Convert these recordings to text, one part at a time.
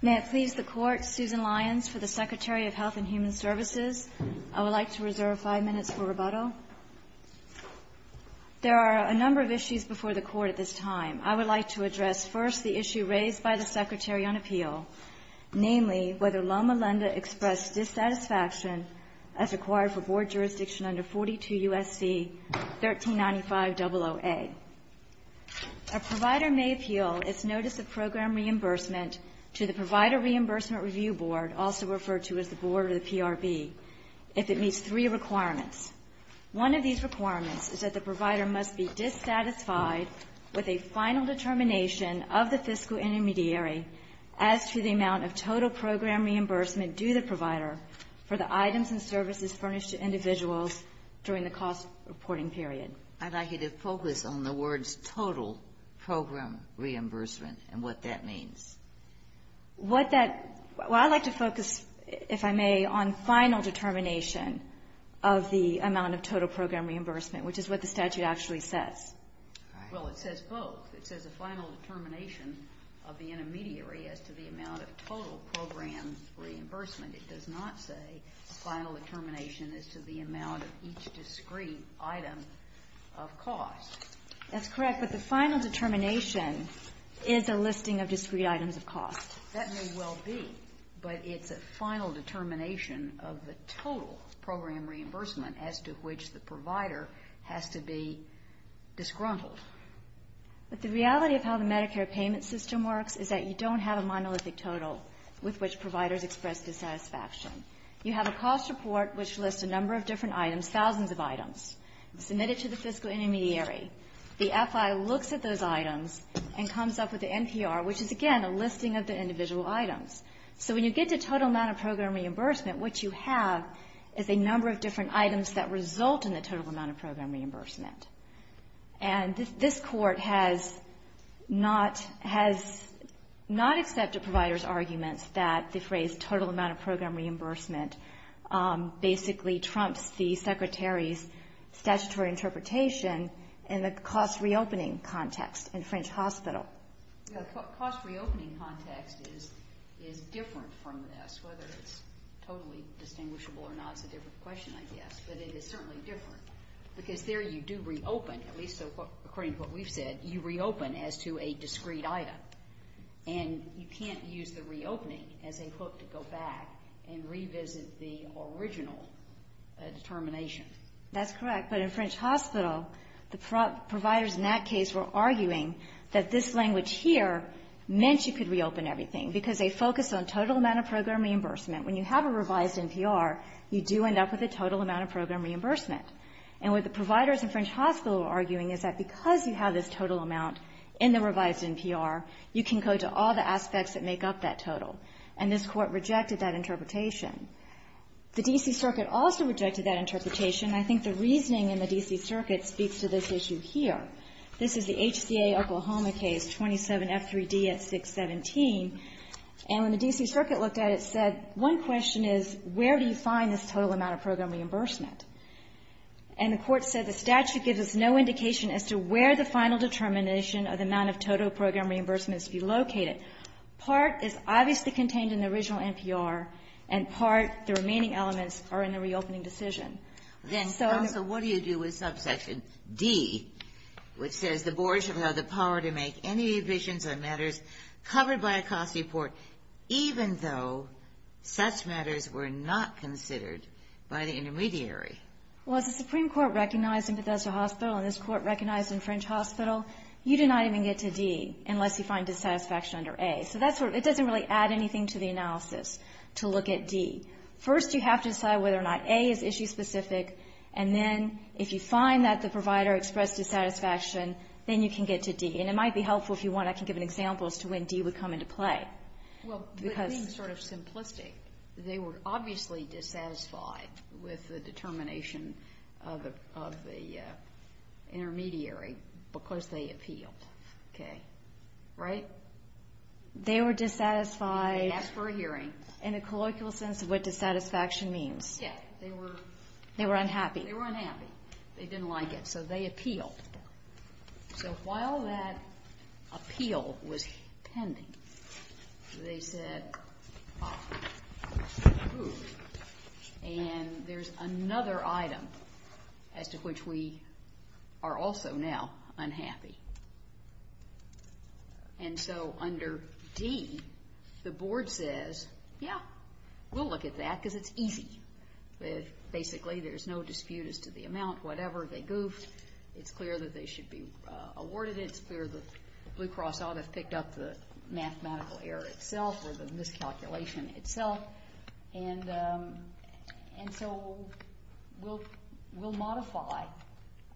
May it please the Court, Susan Lyons for the Secretary of Health and Human Services. I would like to reserve five minutes for rebuttal. There are a number of issues before the Court at this time. I would like to address first the issue raised by the Secretary on appeal, namely whether Loma Linda expressed dissatisfaction as required for board jurisdiction under 42 U.S.C. 1395-00A. A provider may appeal its notice of program reimbursement to the Provider Reimbursement Review Board, also referred to as the board or the PRB, if it meets three requirements. One of these requirements is that the provider must be dissatisfied with a final determination of the fiscal intermediary as to the amount of total program reimbursement due the provider for the items and services furnished to individuals during the cost reporting period. I'd like you to focus on the words total program reimbursement and what that means. What that – well, I'd like to focus, if I may, on final determination of the amount of total program reimbursement, which is what the statute actually says. All right. Well, it says both. It says a final determination of the intermediary as to the amount of total program It does not say a final determination as to the amount of each discrete item of cost. That's correct, but the final determination is a listing of discrete items of cost. That may well be, but it's a final determination of the total program reimbursement as to which the provider has to be disgruntled. But the reality of how the Medicare payment system works is that you don't have a monolithic total with which providers express dissatisfaction. You have a cost report which lists a number of different items, thousands of items, submitted to the fiscal intermediary. The FI looks at those items and comes up with the NPR, which is, again, a listing of the individual items. So when you get to total amount of program reimbursement, what you have is a number of different items that result in the total amount of program reimbursement. And this Court has not accepted providers' arguments that the phrase total amount of program reimbursement basically trumps the Secretary's statutory interpretation in the cost-reopening context in French Hospital. The cost-reopening context is different from this, whether it's totally distinguishable or not is a different question, I guess. But it is certainly different, because there you do reopen, at least according to what we've said, you reopen as to a discrete item. And you can't use the reopening as a hook to go back and revisit the original determination. That's correct, but in French Hospital, the providers in that case were arguing that this language here meant you could reopen everything, because they focus on total amount of program reimbursement. When you have a revised NPR, you do end up with a total amount of program reimbursement. And what the providers in French Hospital are arguing is that because you have this total amount in the revised NPR, you can go to all the aspects that make up that total. And this Court rejected that interpretation. The D.C. Circuit also rejected that interpretation, and I think the reasoning in the D.C. Circuit speaks to this issue here. This is the HCA Oklahoma case, 27F3D at 617. And when the D.C. Circuit looked at it, it said, one question is, where do you find this total amount of program reimbursement? And the Court said, the statute gives us no indication as to where the final determination of the amount of total program reimbursement is to be located. Part is obviously contained in the original NPR, and part, the remaining elements, are in the reopening decision. Then also, what do you do with subsection D, which says the board should have the power to make any additions or matters covered by a cost report, even though such matters were not considered by the intermediary? Well, as the Supreme Court recognized in Bethesda Hospital and this Court recognized in French Hospital, you do not even get to D unless you find dissatisfaction under A. So that's where it doesn't really add anything to the analysis to look at D. First, you have to decide whether or not A is issue-specific, and then if you find that the provider expressed dissatisfaction, then you can get to D. And it might be helpful if you want, I can give an example as to when D would come into play. Well, the thing is sort of simplistic. They were obviously dissatisfied with the determination of the intermediary because they appealed. Okay. Right? They were dissatisfied. They asked for a hearing. In a colloquial sense of what dissatisfaction means. Yeah. They were unhappy. They were unhappy. They didn't like it, so they appealed. So while that appeal was pending, they said, and there's another item as to which we are also now unhappy. And so under D, the Board says, yeah, we'll look at that because it's easy. Basically, there's no dispute as to the amount. Whatever. They goofed. It's clear that they should be awarded it. It's clear that Blue Cross ought to have picked up the mathematical error itself or the miscalculation itself. And so we'll modify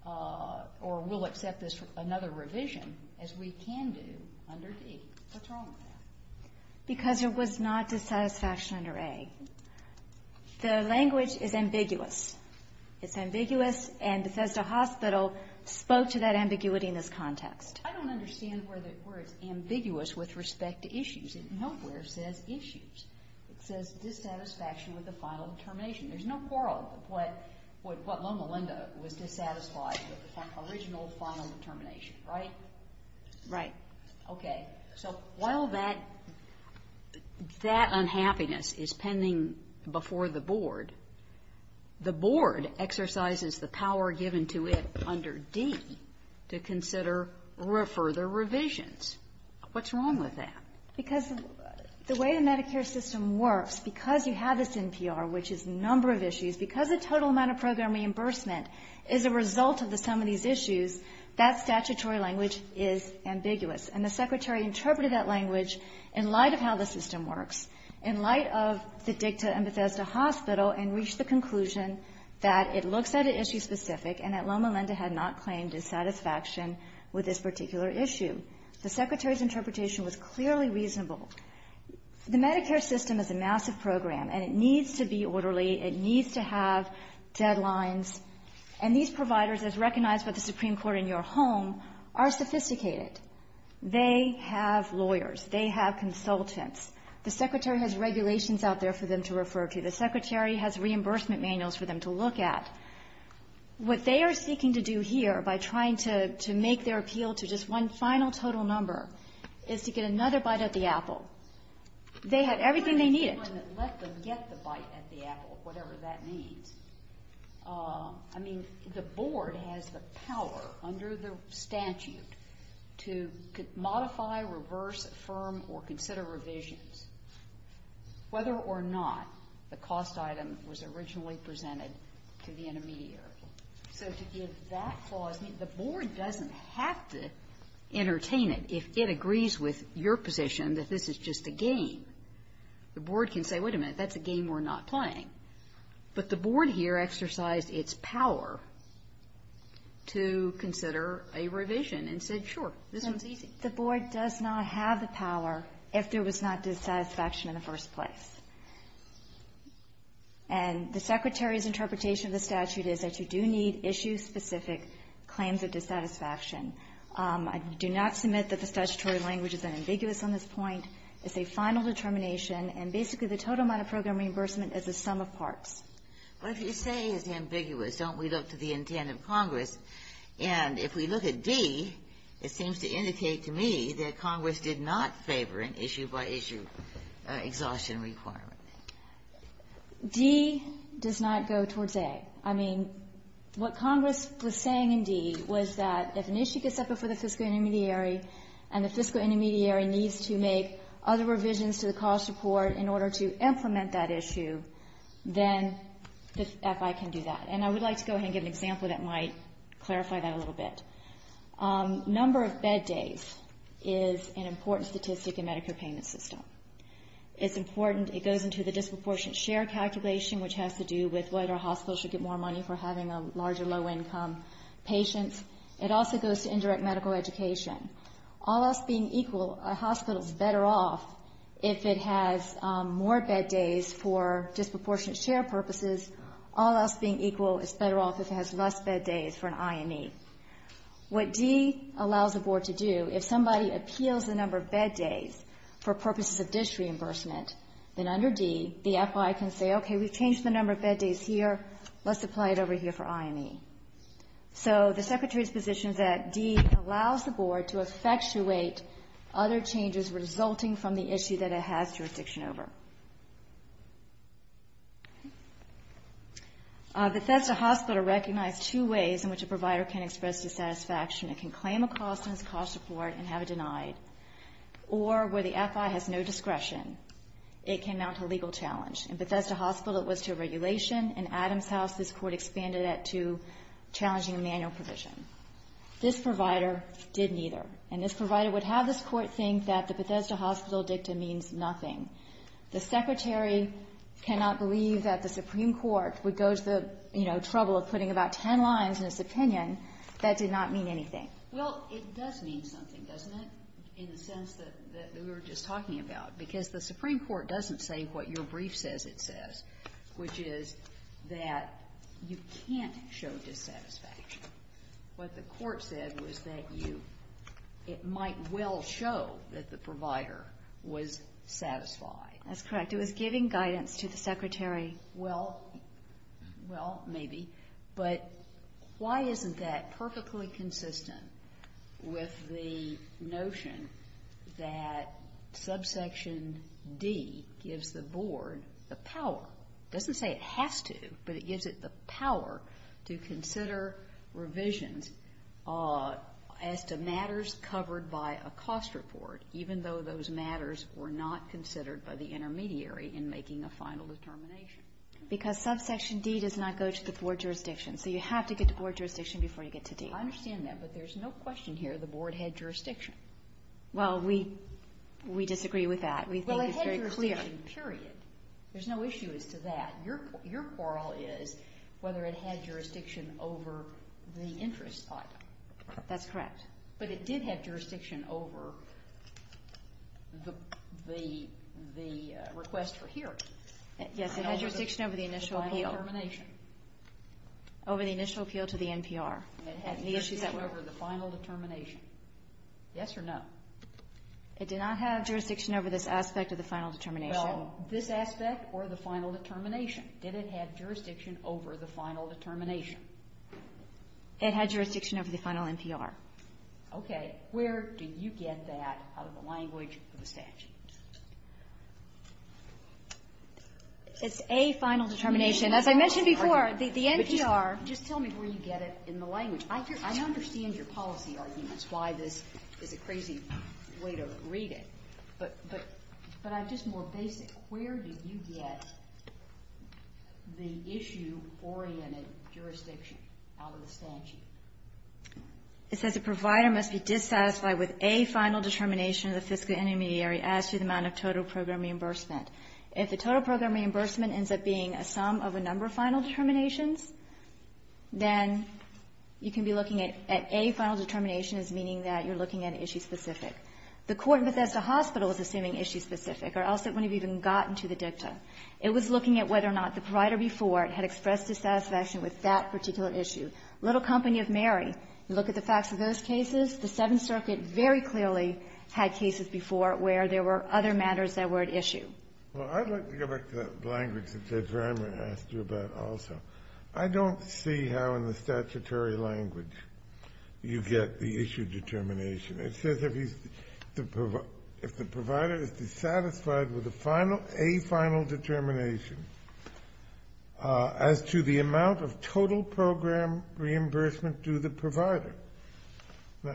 or we'll accept another revision as we can do under D. What's wrong with that? Because there was not dissatisfaction under A. The language is ambiguous. It's ambiguous and Bethesda Hospital spoke to that ambiguity in this context. I don't understand where it's ambiguous with respect to issues. It nowhere says issues. It says dissatisfaction with the final determination. There's no quarrel with what Loma Linda was dissatisfied with, the original final determination, right? Right. Okay. So while that unhappiness is pending before the Board, the Board exercises the power given to it under D to consider further revisions. What's wrong with that? Because the way the Medicare system works, because you have this NPR, which is number of issues, because the total amount of program reimbursement is a result of the sum of these issues, that statutory language is ambiguous. And the Secretary interpreted that language in light of how the system works, in light of the DICTA and Bethesda Hospital, and reached the conclusion that it looks at an issue specific and that Loma Linda had not claimed dissatisfaction with this particular issue. The Secretary's interpretation was clearly reasonable. The Medicare system is a massive program, and it needs to be orderly. It needs to have deadlines. And these providers, as recognized by the Supreme Court in your home, are sophisticated. They have lawyers. They have consultants. The Secretary has regulations out there for them to refer to. The Secretary has reimbursement manuals for them to look at. What they are seeking to do here by trying to make their appeal to just one final total number is to get another bite at the apple. They had everything they needed. I mean, the Board has the power under the statute to modify, reverse, affirm, or consider revisions, whether or not the cost item was originally presented to the intermediary. So to give that clause, I mean, the Board doesn't have to entertain it. If it agrees with your position that this is just a game, the Board can say, wait a minute, that's a game we're not playing. But the Board here exercised its power to consider revisions and said, sure, this one's easy. The Board does not have the power if there was not dissatisfaction in the first place. And the Secretary's interpretation of the statute is that you do need issue-specific claims of dissatisfaction. I do not submit that the statutory language is ambiguous on this point. It's a final determination. And basically, the total amount of program reimbursement is the sum of parts. But if you say it's ambiguous, don't we look to the intent of Congress? And if we look at D, it seems to indicate to me that Congress did not favor an issue-by-issue exhaustion requirement. D does not go towards A. I mean, what Congress was saying in D was that if an issue gets up before the fiscal intermediary and the fiscal intermediary needs to make other revisions to the cost report in order to implement that issue, then Congress can do that. And I would like to go ahead and give an example that might clarify that a little bit. Number of bed days is an important statistic in Medicare payment system. It's important. It goes into the disproportionate share calculation, which has to do with whether a hospital should get more money for having a larger low-income patient. It also goes to indirect medical education. All else being equal, a hospital's better off if it has more bed days for disproportionate share purposes All else being equal, it's better off if it has less bed days for an IME. What D allows the Board to do, if somebody appeals the number of bed days for purposes of dish reimbursement, then under D, the FI can say, okay, we've changed the number of bed days here. Let's apply it over here for IME. So the Secretary's position is that D allows the Board to effectuate other changes resulting from the issue that it has jurisdiction over. Bethesda Hospital recognized two ways in which a provider can express dissatisfaction. It can claim a cost in its cost report and have it denied, or where the FI has no discretion, it can mount a legal challenge. In Bethesda Hospital, it was to a regulation. In Adams House, this Court expanded that to challenging a manual provision. This provider did neither. And this provider would have this Court think that the Bethesda Hospital dicta means nothing. The Secretary cannot believe that the Supreme Court would go to the, you know, trouble of putting about ten lines in its opinion that did not mean anything. Well, it does mean something, doesn't it, in the sense that we were just talking about? Because the Supreme Court doesn't say what your brief says it says, which is that you can't show dissatisfaction. What the Court said was that you, it might well show that the provider was satisfied. That's correct. It was giving guidance to the Secretary. Well, maybe. But why isn't that perfectly consistent with the notion that subsection D gives the Board the power, doesn't say it has to, but it gives it the power to consider revisions as to matters covered by a cost report, even though those matters were not considered by the intermediary in making a final determination? Because subsection D does not go to the Board jurisdiction. So you have to get to Board jurisdiction before you get to D. I understand that. But there's no question here the Board had jurisdiction. Well, we disagree with that. We think it's very clear. Well, it had jurisdiction, period. There's no issue as to that. Your quarrel is whether it had jurisdiction over the interest item. That's correct. But it did have jurisdiction over the request for hearing. Yes. It had jurisdiction over the initial appeal. Over the initial appeal to the NPR. And it had jurisdiction over the final determination. Yes or no? It did not have jurisdiction over this aspect of the final determination. Well, this aspect or the final determination. Did it have jurisdiction over the final determination? It had jurisdiction over the final NPR. Okay. Where do you get that out of the language of the statute? It's a final determination. As I mentioned before, the NPR. Just tell me where you get it in the language. I understand your policy arguments, why this is a crazy way to read it. But I'm just more basic. Where did you get the issue-oriented jurisdiction out of the statute? It says a provider must be dissatisfied with a final determination of the fiscal intermediary as to the amount of total program reimbursement. If the total program reimbursement ends up being a sum of a number of final determinations, then you can be looking at a final determination as meaning that you're looking at an issue specific. The court in Bethesda Hospital is assuming issue specific, or else it wouldn't have even gotten to the dicta. It was looking at whether or not the provider before had expressed dissatisfaction with that particular issue. Little Company of Mary, you look at the facts of those cases, the Seventh Circuit very clearly had cases before where there were other matters that were at issue. Well, I'd like to go back to the language that Judge Reimer asked you about also. I don't see how in the statutory language you get the issue determination. It says if the provider is dissatisfied with a final determination as to the amount of total program reimbursement due the provider. Now,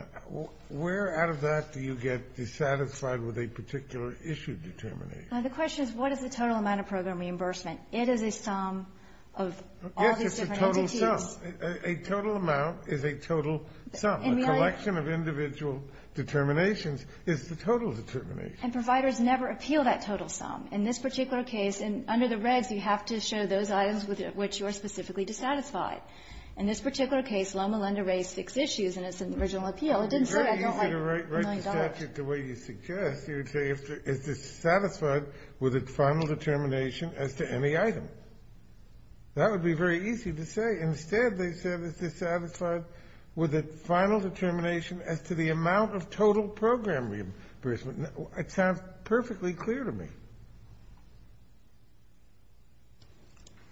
where out of that do you get dissatisfied with a particular issue determination? The question is, what is the total amount of program reimbursement? It is a sum of all these different entities. Yes, it's a total sum. A total amount is a total sum. A collection of individual determinations is the total determination. And providers never appeal that total sum. In this particular case, under the regs, you have to show those items with which you are specifically dissatisfied. In this particular case, Loma Linda raised six issues, and it's in the original appeal. It didn't say I don't like a million dollars. It would be very easy to write the statute the way you suggest. You would say is dissatisfied with a final determination as to any item. That would be very easy to say. Instead, they said is dissatisfied with a final determination as to the amount of total program reimbursement. It sounds perfectly clear to me.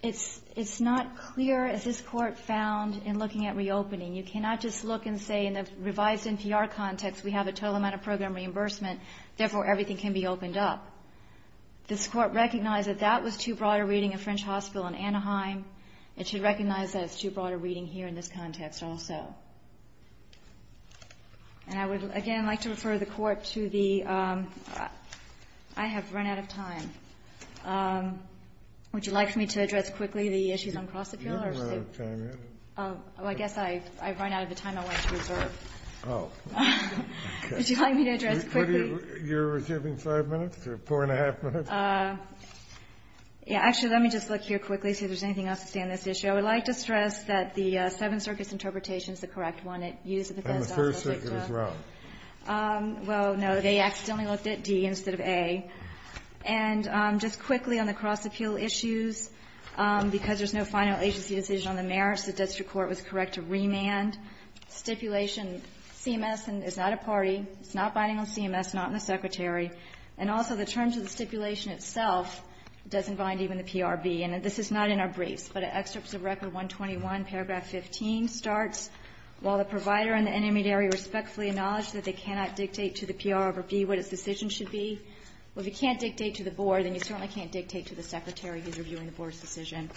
It's not clear, as this Court found in looking at reopening. You cannot just look and say in the revised NPR context, we have a total amount of program reimbursement. Therefore, everything can be opened up. This Court recognized that that was too broad a reading of French Hospital and Anaheim. It should recognize that it's too broad a reading here in this context also. And I would, again, like to refer the Court to the – I have run out of time. Would you like me to address quickly the issues on Crossetville? Kennedy. You haven't run out of time yet. Well, I guess I've run out of the time I want to reserve. Oh. Would you like me to address quickly? You're reserving five minutes or four and a half minutes? Yeah. Actually, let me just look here quickly, see if there's anything else to say on this issue. I would like to stress that the Seventh Circuit's interpretation is the correct one. It used the Bethesda Hospital dicta. And the Third Circuit as well. Well, no. They accidentally looked at D instead of A. And just quickly on the Crossetville issues, because there's no final agency decision on the merits, the district court was correct to remand stipulation. CMS is not a party. It's not binding on CMS, not on the Secretary. And also, the terms of the stipulation itself doesn't bind even the PRB. And this is not in our briefs. But in Excerpts of Record 121, paragraph 15 starts, While the provider and the intermediary respectfully acknowledge that they cannot dictate to the PRB what its decision should be. Well, if you can't dictate to the Board, then you certainly can't dictate to the Secretary who's reviewing the Board's decision.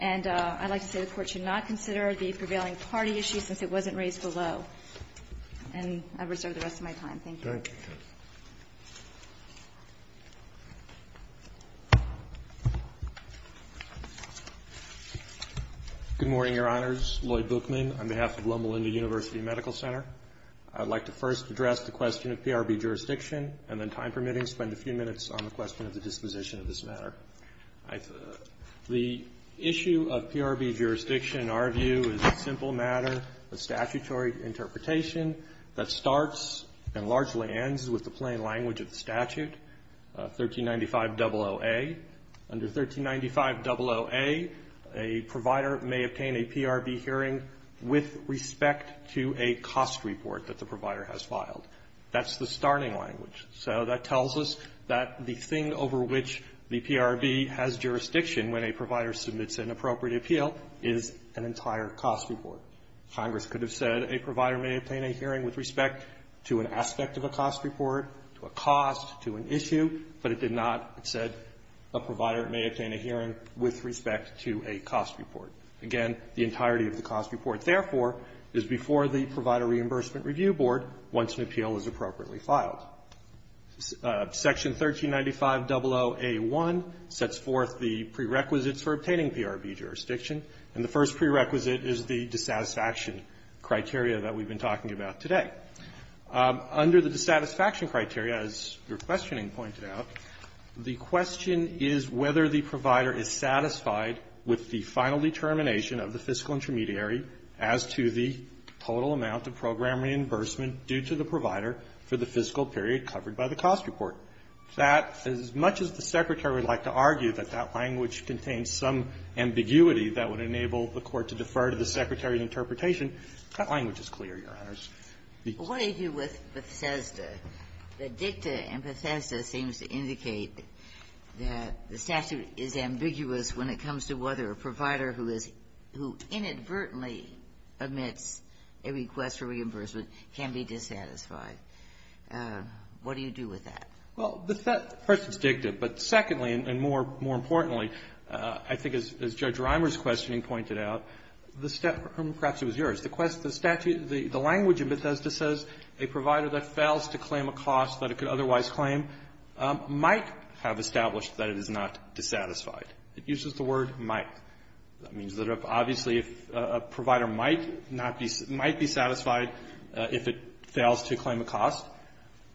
And I'd like to say the Court should not consider the prevailing party issue since And I reserve the rest of my time. Thank you. Thank you. Good morning, Your Honors. Lloyd Bookman on behalf of Loma Linda University Medical Center. I'd like to first address the question of PRB jurisdiction, and then, time permitting, spend a few minutes on the question of the disposition of this matter. The issue of PRB jurisdiction, in our view, is a simple matter of statutory interpretation that starts and largely ends with the plain language of the statute, 1395.00a. Under 1395.00a, a provider may obtain a PRB hearing with respect to a cost report that the provider has filed. That's the starting language. So that tells us that the thing over which the PRB has jurisdiction when a provider submits an appropriate appeal is an entire cost report. Congress could have said a provider may obtain a hearing with respect to an aspect of a cost report, to a cost, to an issue, but it did not. It said a provider may obtain a hearing with respect to a cost report. Again, the entirety of the cost report, therefore, is before the Provider Reimbursement Review Board once an appeal is appropriately filed. Section 1395.00a.1 sets forth the prerequisites for obtaining PRB jurisdiction, and the first prerequisite is the dissatisfaction criteria that we've been talking about today. Under the dissatisfaction criteria, as your questioning pointed out, the question is whether the provider is satisfied with the final determination of the fiscal intermediary as to the total amount of program reimbursement due to the provider for the fiscal period covered by the cost report. That, as much as the Secretary would like to argue that that language contains some ambiguity that would enable the Court to defer to the Secretary of Interpretation, that language is clear, Your Honors. What do you do with Bethesda? The dicta in Bethesda seems to indicate that the statute is ambiguous when it comes to whether a provider who is – who inadvertently admits a request for reimbursement can be dissatisfied. What do you do with that? Well, the question is dicta, but secondly, and more importantly, I think as Judge Reimer's questioning pointed out, the statute – perhaps it was yours – the language in Bethesda says a provider that fails to claim a cost that it could otherwise claim might have established that it is not dissatisfied. It uses the word might. That means that, obviously, if a provider might not be – might be satisfied if it fails to claim a cost,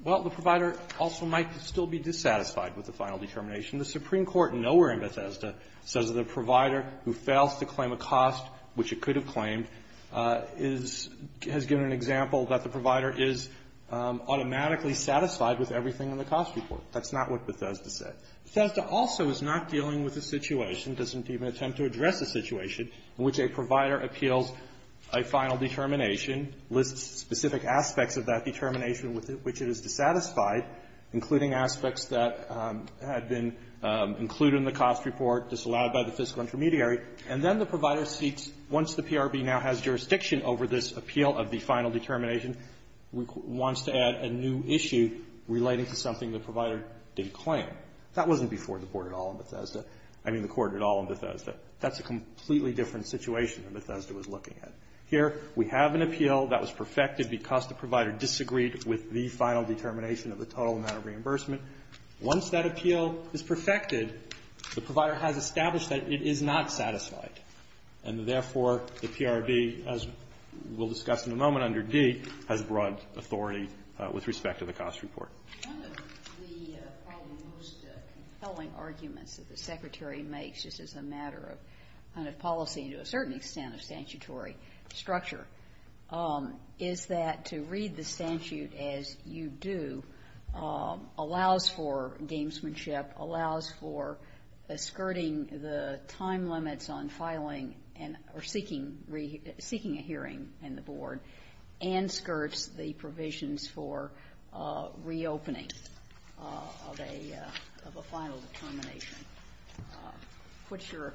well, the provider also might still be dissatisfied with the final determination. The Supreme Court nowhere in Bethesda says that a provider who fails to claim a cost which it could have claimed is – has given an example that the provider is automatically satisfied with everything in the cost report. That's not what Bethesda said. Bethesda also is not dealing with a situation, doesn't even attempt to address a situation, in which a provider appeals a final determination, lists specific aspects of that determination with which it is dissatisfied, including aspects that had been included in the cost report, disallowed by the fiscal intermediary, and then the provider seeks, once the PRB now has jurisdiction over this appeal of the final determination, wants to add a new issue relating to something the provider didn't claim. That wasn't before the court at all in Bethesda. I mean the court at all in Bethesda. That's a completely different situation than Bethesda was looking at. Here, we have an appeal that was perfected because the provider disagreed with the final determination of the total amount of reimbursement. Once that appeal is perfected, the provider has established that it is not satisfied, and therefore, the PRB, as we'll discuss in a moment under D, has broad authority with respect to the cost report. One of the probably most compelling arguments that the Secretary makes, just as a matter of kind of policy to a certain extent of statutory structure, is that to read the statute as you do allows for gamesmanship, allows for skirting the time limits on filing and or seeking a hearing in the board, and skirts the provisions for reopening of a final determination. What's your?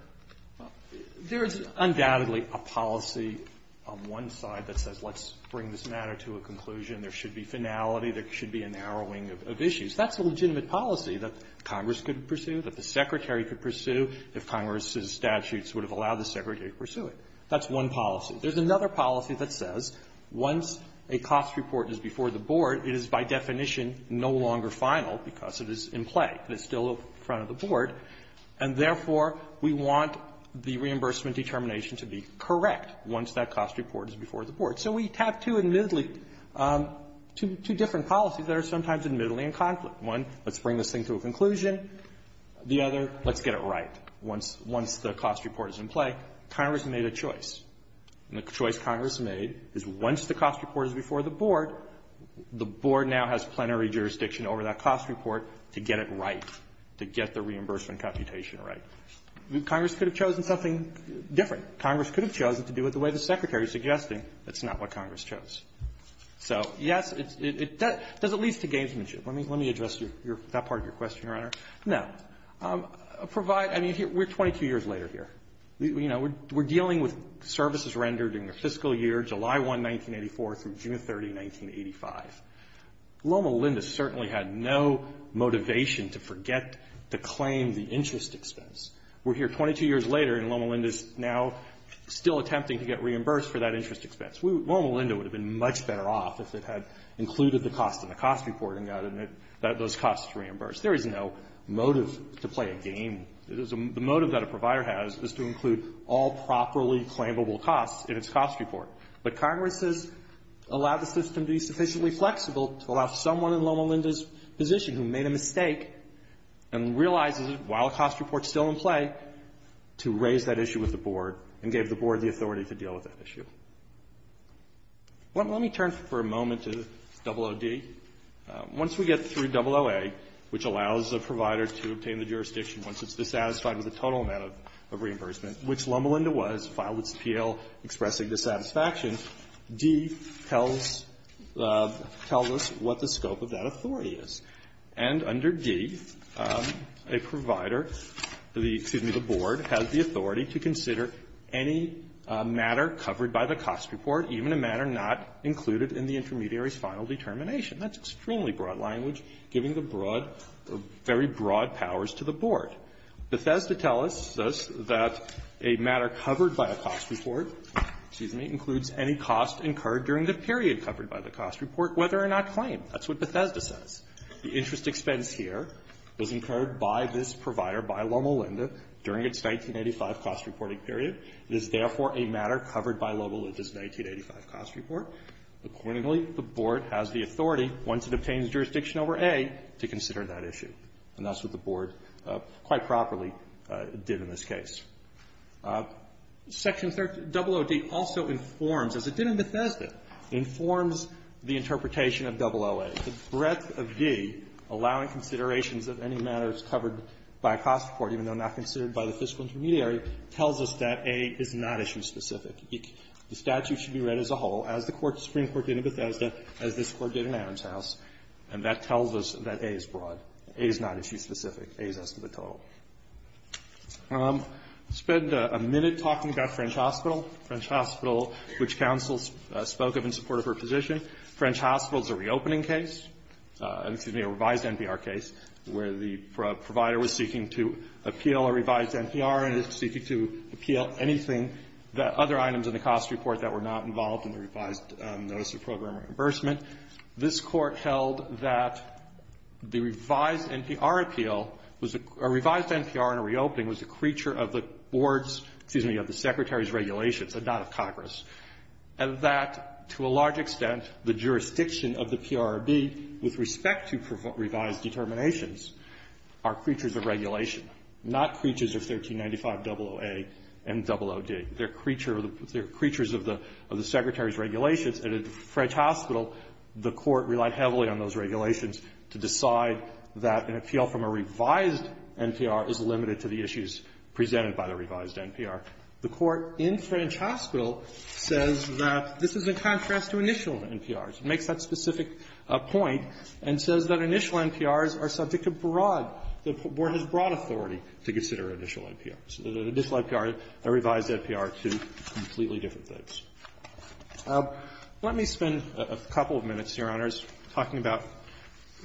There is undoubtedly a policy on one side that says let's bring this matter to a conclusion. There should be finality. There should be a narrowing of issues. That's a legitimate policy that Congress could pursue, that the Secretary could pursue, if Congress's statutes would have allowed the Secretary to pursue it. That's one policy. There's another policy that says once a cost report is before the board, it is by definition no longer final because it is in play. It's still in front of the board, and therefore, we want the reimbursement determination to be correct once that cost report is before the board. So we have two admittedly, two different policies that are sometimes admittedly in conflict. One, let's bring this thing to a conclusion. The other, let's get it right. Once the cost report is in play, Congress made a choice. And the choice Congress made is once the cost report is before the board, the board now has plenary jurisdiction over that cost report to get it right, to get the reimbursement computation right. Congress could have chosen something different. Congress could have chosen to do it the way the Secretary is suggesting. That's not what Congress chose. So, yes, it does lead to gamesmanship. Let me address that part of your question, Your Honor. No. Provide — I mean, we're 22 years later here. You know, we're dealing with services rendered in the fiscal year, July 1, 1984, through June 30, 1985. Loma Linda certainly had no motivation to forget to claim the interest expense. We're here 22 years later, and Loma Linda is now still attempting to get reimbursed for that interest expense. Loma Linda would have been much better off if it had included the cost in the cost report and gotten those costs reimbursed. There is no motive to play a game. The motive that a provider has is to include all properly claimable costs in its cost report. But Congress has allowed the system to be sufficiently flexible to allow someone in Loma Linda's position who made a mistake and realizes, while the cost report is still in play, to raise that issue with the board and gave the board the authority to deal with that issue. Let me turn for a moment to OOD. Once we get through OOA, which allows a provider to obtain the jurisdiction once it's dissatisfied with the total amount of reimbursement, which Loma Linda was, filed its PL expressing dissatisfaction, D tells us what the scope of that authority is. And under D, a provider, excuse me, the board, has the authority to consider any matter covered by the cost report, even a matter not included in the intermediary's final determination. That's extremely broad language, giving the broad or very broad powers to the board. Bethesda tells us that a matter covered by a cost report, excuse me, includes any cost incurred during the period covered by the cost report, whether or not claimed. That's what Bethesda says. The interest expense here was incurred by this provider, by Loma Linda, during its 1985 cost reporting period. It is, therefore, a matter covered by Loma Linda's 1985 cost report. Accordingly, the board has the authority, once it obtains jurisdiction over A, to consider that issue. And that's what the board quite properly did in this case. Section 30, OOD, also informs, as it did in Bethesda, informs the interpretation of OOA. The breadth of D, allowing considerations of any matters covered by a cost report, even though not considered by the fiscal intermediary, tells us that A is not issue specific. The statute should be read as a whole, as the Supreme Court did in Bethesda, as this Court did in Adams House, and that tells us that A is broad. A is not issue specific. A is estimate total. I'll spend a minute talking about French Hospital. French Hospital, which counsel spoke of in support of her position, French Hospital is a reopening case, excuse me, where the provider was seeking to appeal a revised NPR and is seeking to appeal anything that other items in the cost report that were not involved in the revised notice of program reimbursement. This Court held that the revised NPR appeal was a revised NPR in a reopening was a creature of the board's, excuse me, of the Secretary's regulations, and not of Congress, and that, to a large extent, the jurisdiction of the PRRB with respect to revised determinations are creatures of regulation, not creatures of 1395aa and 00d. They're creatures of the Secretary's regulations. And at French Hospital, the Court relied heavily on those regulations to decide that an appeal from a revised NPR is limited to the issues presented by the revised NPR. The Court in French Hospital says that this is in contrast to initial NPRs. It makes that specific point and says that initial NPRs are subject to broad the board has broad authority to consider initial NPRs. So that initial NPR and revised NPR are two completely different things. Let me spend a couple of minutes, Your Honors, talking about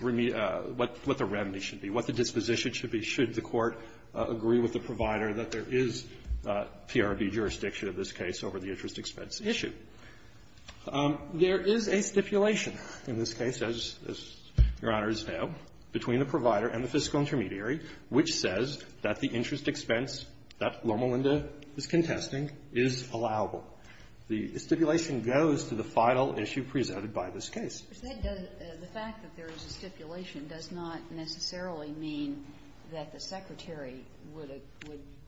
what the remedy should be, what the disposition should be should the Court agree with the provider that there is PRRB jurisdiction of this case over the interest expense issue. There is a stipulation in this case, as Your Honors know, between the provider and the fiscal intermediary, which says that the interest expense that Norma Linda is contesting is allowable. The stipulation goes to the final issue presented by this case. The fact that there is a stipulation does not necessarily mean that the Secretary would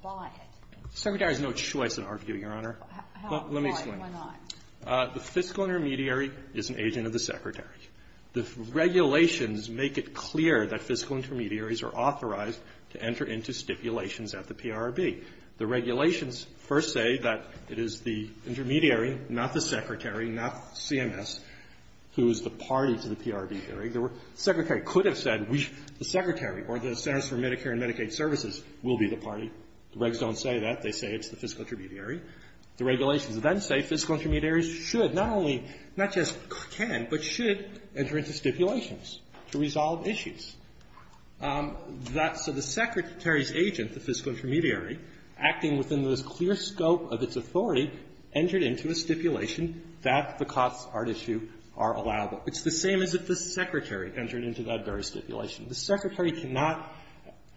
buy it. The Secretary has no choice in our view, Your Honor. Let me explain. The fiscal intermediary is an agent of the Secretary. The regulations make it clear that fiscal intermediaries are authorized to enter into stipulations at the PRRB. The regulations first say that it is the intermediary, not the Secretary, not CMS, who is the party to the PRRB hearing. The Secretary could have said the Secretary or the Centers for Medicare and Medicaid Services will be the party. The regs don't say that. They say it's the fiscal intermediary. The regulations then say fiscal intermediaries should not only, not just can, but should enter into stipulations to resolve issues. That's the Secretary's agent, the fiscal intermediary, acting within the clear scope of its authority, entered into a stipulation that the costs are to issue are allowable. It's the same as if the Secretary entered into that very stipulation. The Secretary cannot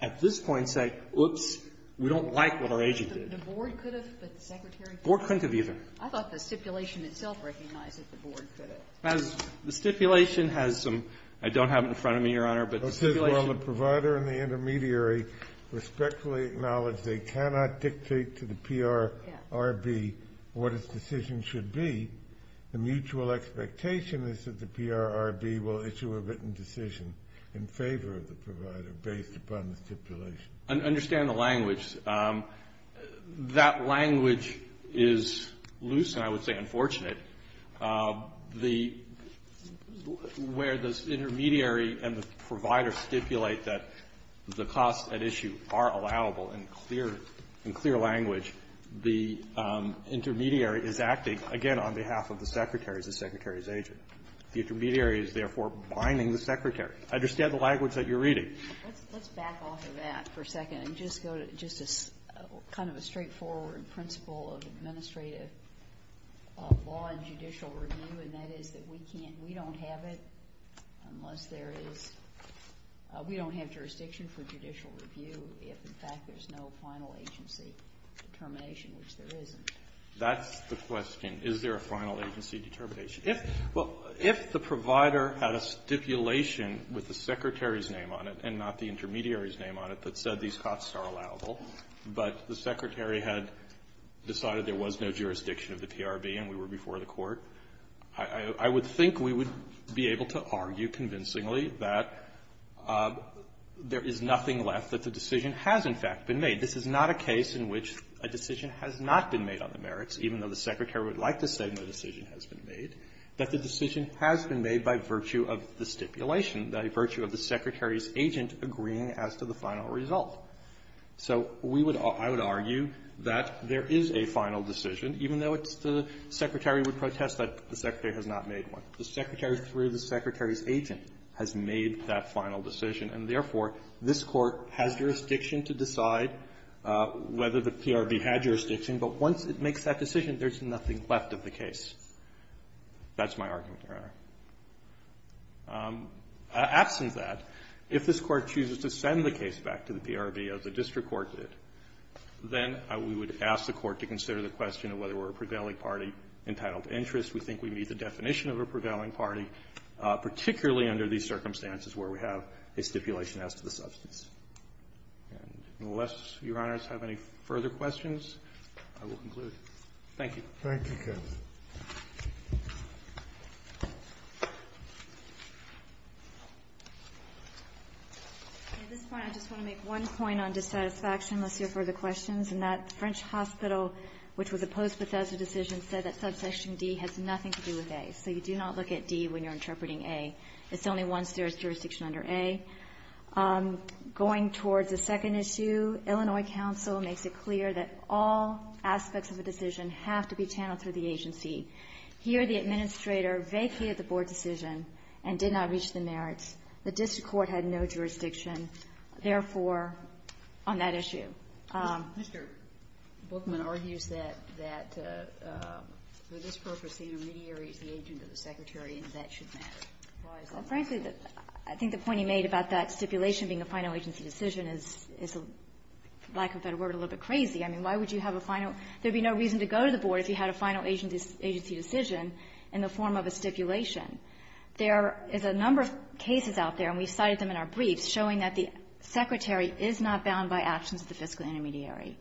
at this point say, oops, we don't like what our agent did. The board could have, but the Secretary could not. The board couldn't have either. I thought the stipulation itself recognized that the board could have. The stipulation has some – I don't have it in front of me, Your Honor, but the stipulation Well, it says while the provider and the intermediary respectfully acknowledge they cannot dictate to the PRRB what its decision should be, the mutual expectation is that the PRRB will issue a written decision in favor of the provider based upon the stipulation. Understand the language. That language is loose, and I would say unfortunate. The – where the intermediary and the provider stipulate that the costs at issue are allowable in clear – in clear language, the intermediary is acting, again, on behalf of the Secretary as the Secretary's agent. The intermediary is, therefore, binding the Secretary. I understand the language that you're reading. Let's back off of that for a second and just go to just a kind of a straightforward principle of administrative law and judicial review, and that is that we can't – we don't have it unless there is – we don't have jurisdiction for judicial review if, in fact, there's no final agency determination, which there isn't. That's the question. Is there a final agency determination? If – well, if the provider had a stipulation with the Secretary's name on it and not the intermediary's name on it that said these costs are allowable, but the Secretary had decided there was no jurisdiction of the PRRB and we were before the Court, I would think we would be able to argue convincingly that there is nothing left, that the decision has, in fact, been made. This is not a case in which a decision has not been made on the merits, even though the Secretary would like to say no decision has been made, that the decision has been made by virtue of the stipulation, by virtue of the Secretary's agent agreeing as to the final result. So we would – I would argue that there is a final decision, even though it's the Secretary would protest that the Secretary has not made one. The Secretary, through the Secretary's agent, has made that final decision, and therefore, this Court has jurisdiction to decide whether the PRRB had jurisdiction, but once it makes that decision, there's nothing left of the case. That's my argument, Your Honor. Absent that, if this Court chooses to send the case back to the PRRB, as the district court did, then we would ask the Court to consider the question of whether we're a prevailing party entitled to interest. We think we meet the definition of a prevailing party, particularly under these circumstances where we have a stipulation as to the substance. And unless Your Honors have any further questions, I will conclude. Thank you. Thank you, counsel. At this point, I just want to make one point on dissatisfaction, unless you have further questions, in that the French hospital, which was opposed Bethesda's decision, said that subsection D has nothing to do with A. So you do not look at D when you're interpreting A. It's only once there is jurisdiction under A. Going towards the second issue, Illinois counsel makes it clear that all aspects of a decision have to be channeled through the agency. Here, the administrator vacated the board decision and did not reach the merits. The district court had no jurisdiction, therefore, on that issue. Mr. Bookman argues that for this purpose, the intermediary is the agent of the Secretary, and that should matter. Frankly, I think the point he made about that stipulation being a final agency decision is, for lack of a better word, a little bit crazy. I mean, why would you have a final? There would be no reason to go to the board if you had a final agency decision in the form of a stipulation. There is a number of cases out there, and we cited them in our briefs, showing that the Secretary is not bound by actions of the fiscal intermediary.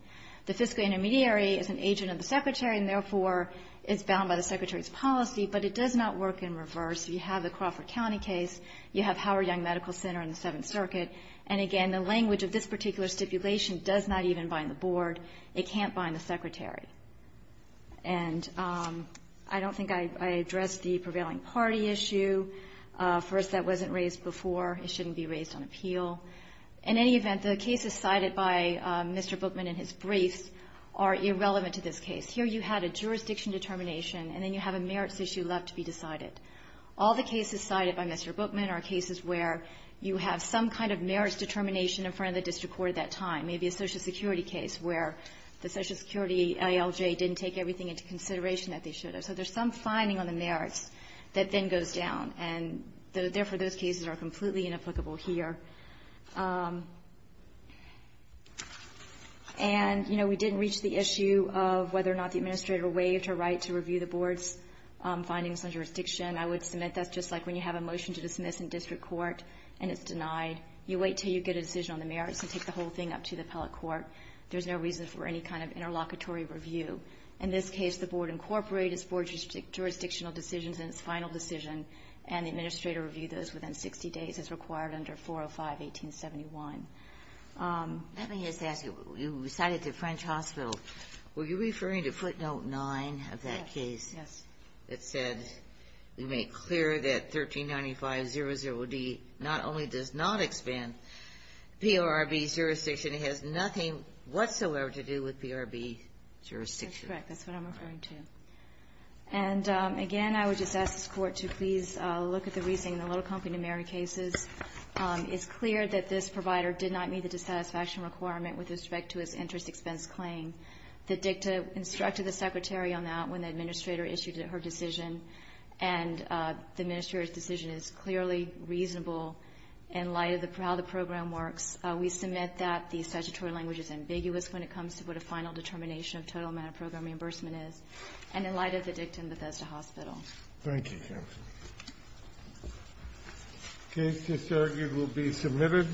The fiscal intermediary is an agent of the Secretary, and therefore, it's bound by the Secretary's policy, but it does not work in reverse. You have the Crawford County case. You have Howard Young Medical Center and the Seventh Circuit. And again, the language of this particular stipulation does not even bind the board. It can't bind the Secretary. And I don't think I addressed the prevailing party issue. For us, that wasn't raised before. It shouldn't be raised on appeal. In any event, the cases cited by Mr. Bookman are cases where you have some kind of merits determination in front of the district court at that time, maybe a Social Security case where the Social Security ALJ didn't take everything into consideration that they should have. So there's some finding on the merits that then goes down, and therefore, those cases are completely inapplicable here. And, you know, we didn't reach the issue of whether or not the administrator waived her right to review the board's findings on jurisdiction. I would submit that's just like when you have a motion to dismiss in district court, and it's denied. You wait until you get a decision on the merits and take the whole thing up to the appellate court. There's no reason for any kind of interlocutory review. In this case, the board incorporated its board jurisdictional decisions in its final decision, and the administrator reviewed those within 60 days as required under 405-1871. Ginsburg. Let me just ask you. You cited the French hospital. Were you referring to footnote 9 of that case that said, we make clear that 1395-00D not only does not expand PRB's jurisdiction, it has nothing whatsoever to do with PRB jurisdiction? McGill. That's correct. That's what I'm referring to. And, again, I would just ask this Court to please look at the reasoning in the Little Company numeric cases. It's clear that this provider did not meet the dissatisfaction requirement with respect to its interest expense claim. The dicta instructed the Secretary on that when the administrator issued her decision, and the administrator's decision is clearly reasonable in light of the proud of the program works. We submit that the statutory language is ambiguous when it comes to what a final determination of total amount of program reimbursement is, and in light of the dicta in Bethesda Hospital. Thank you, Jensen. Case disargued will be submitted.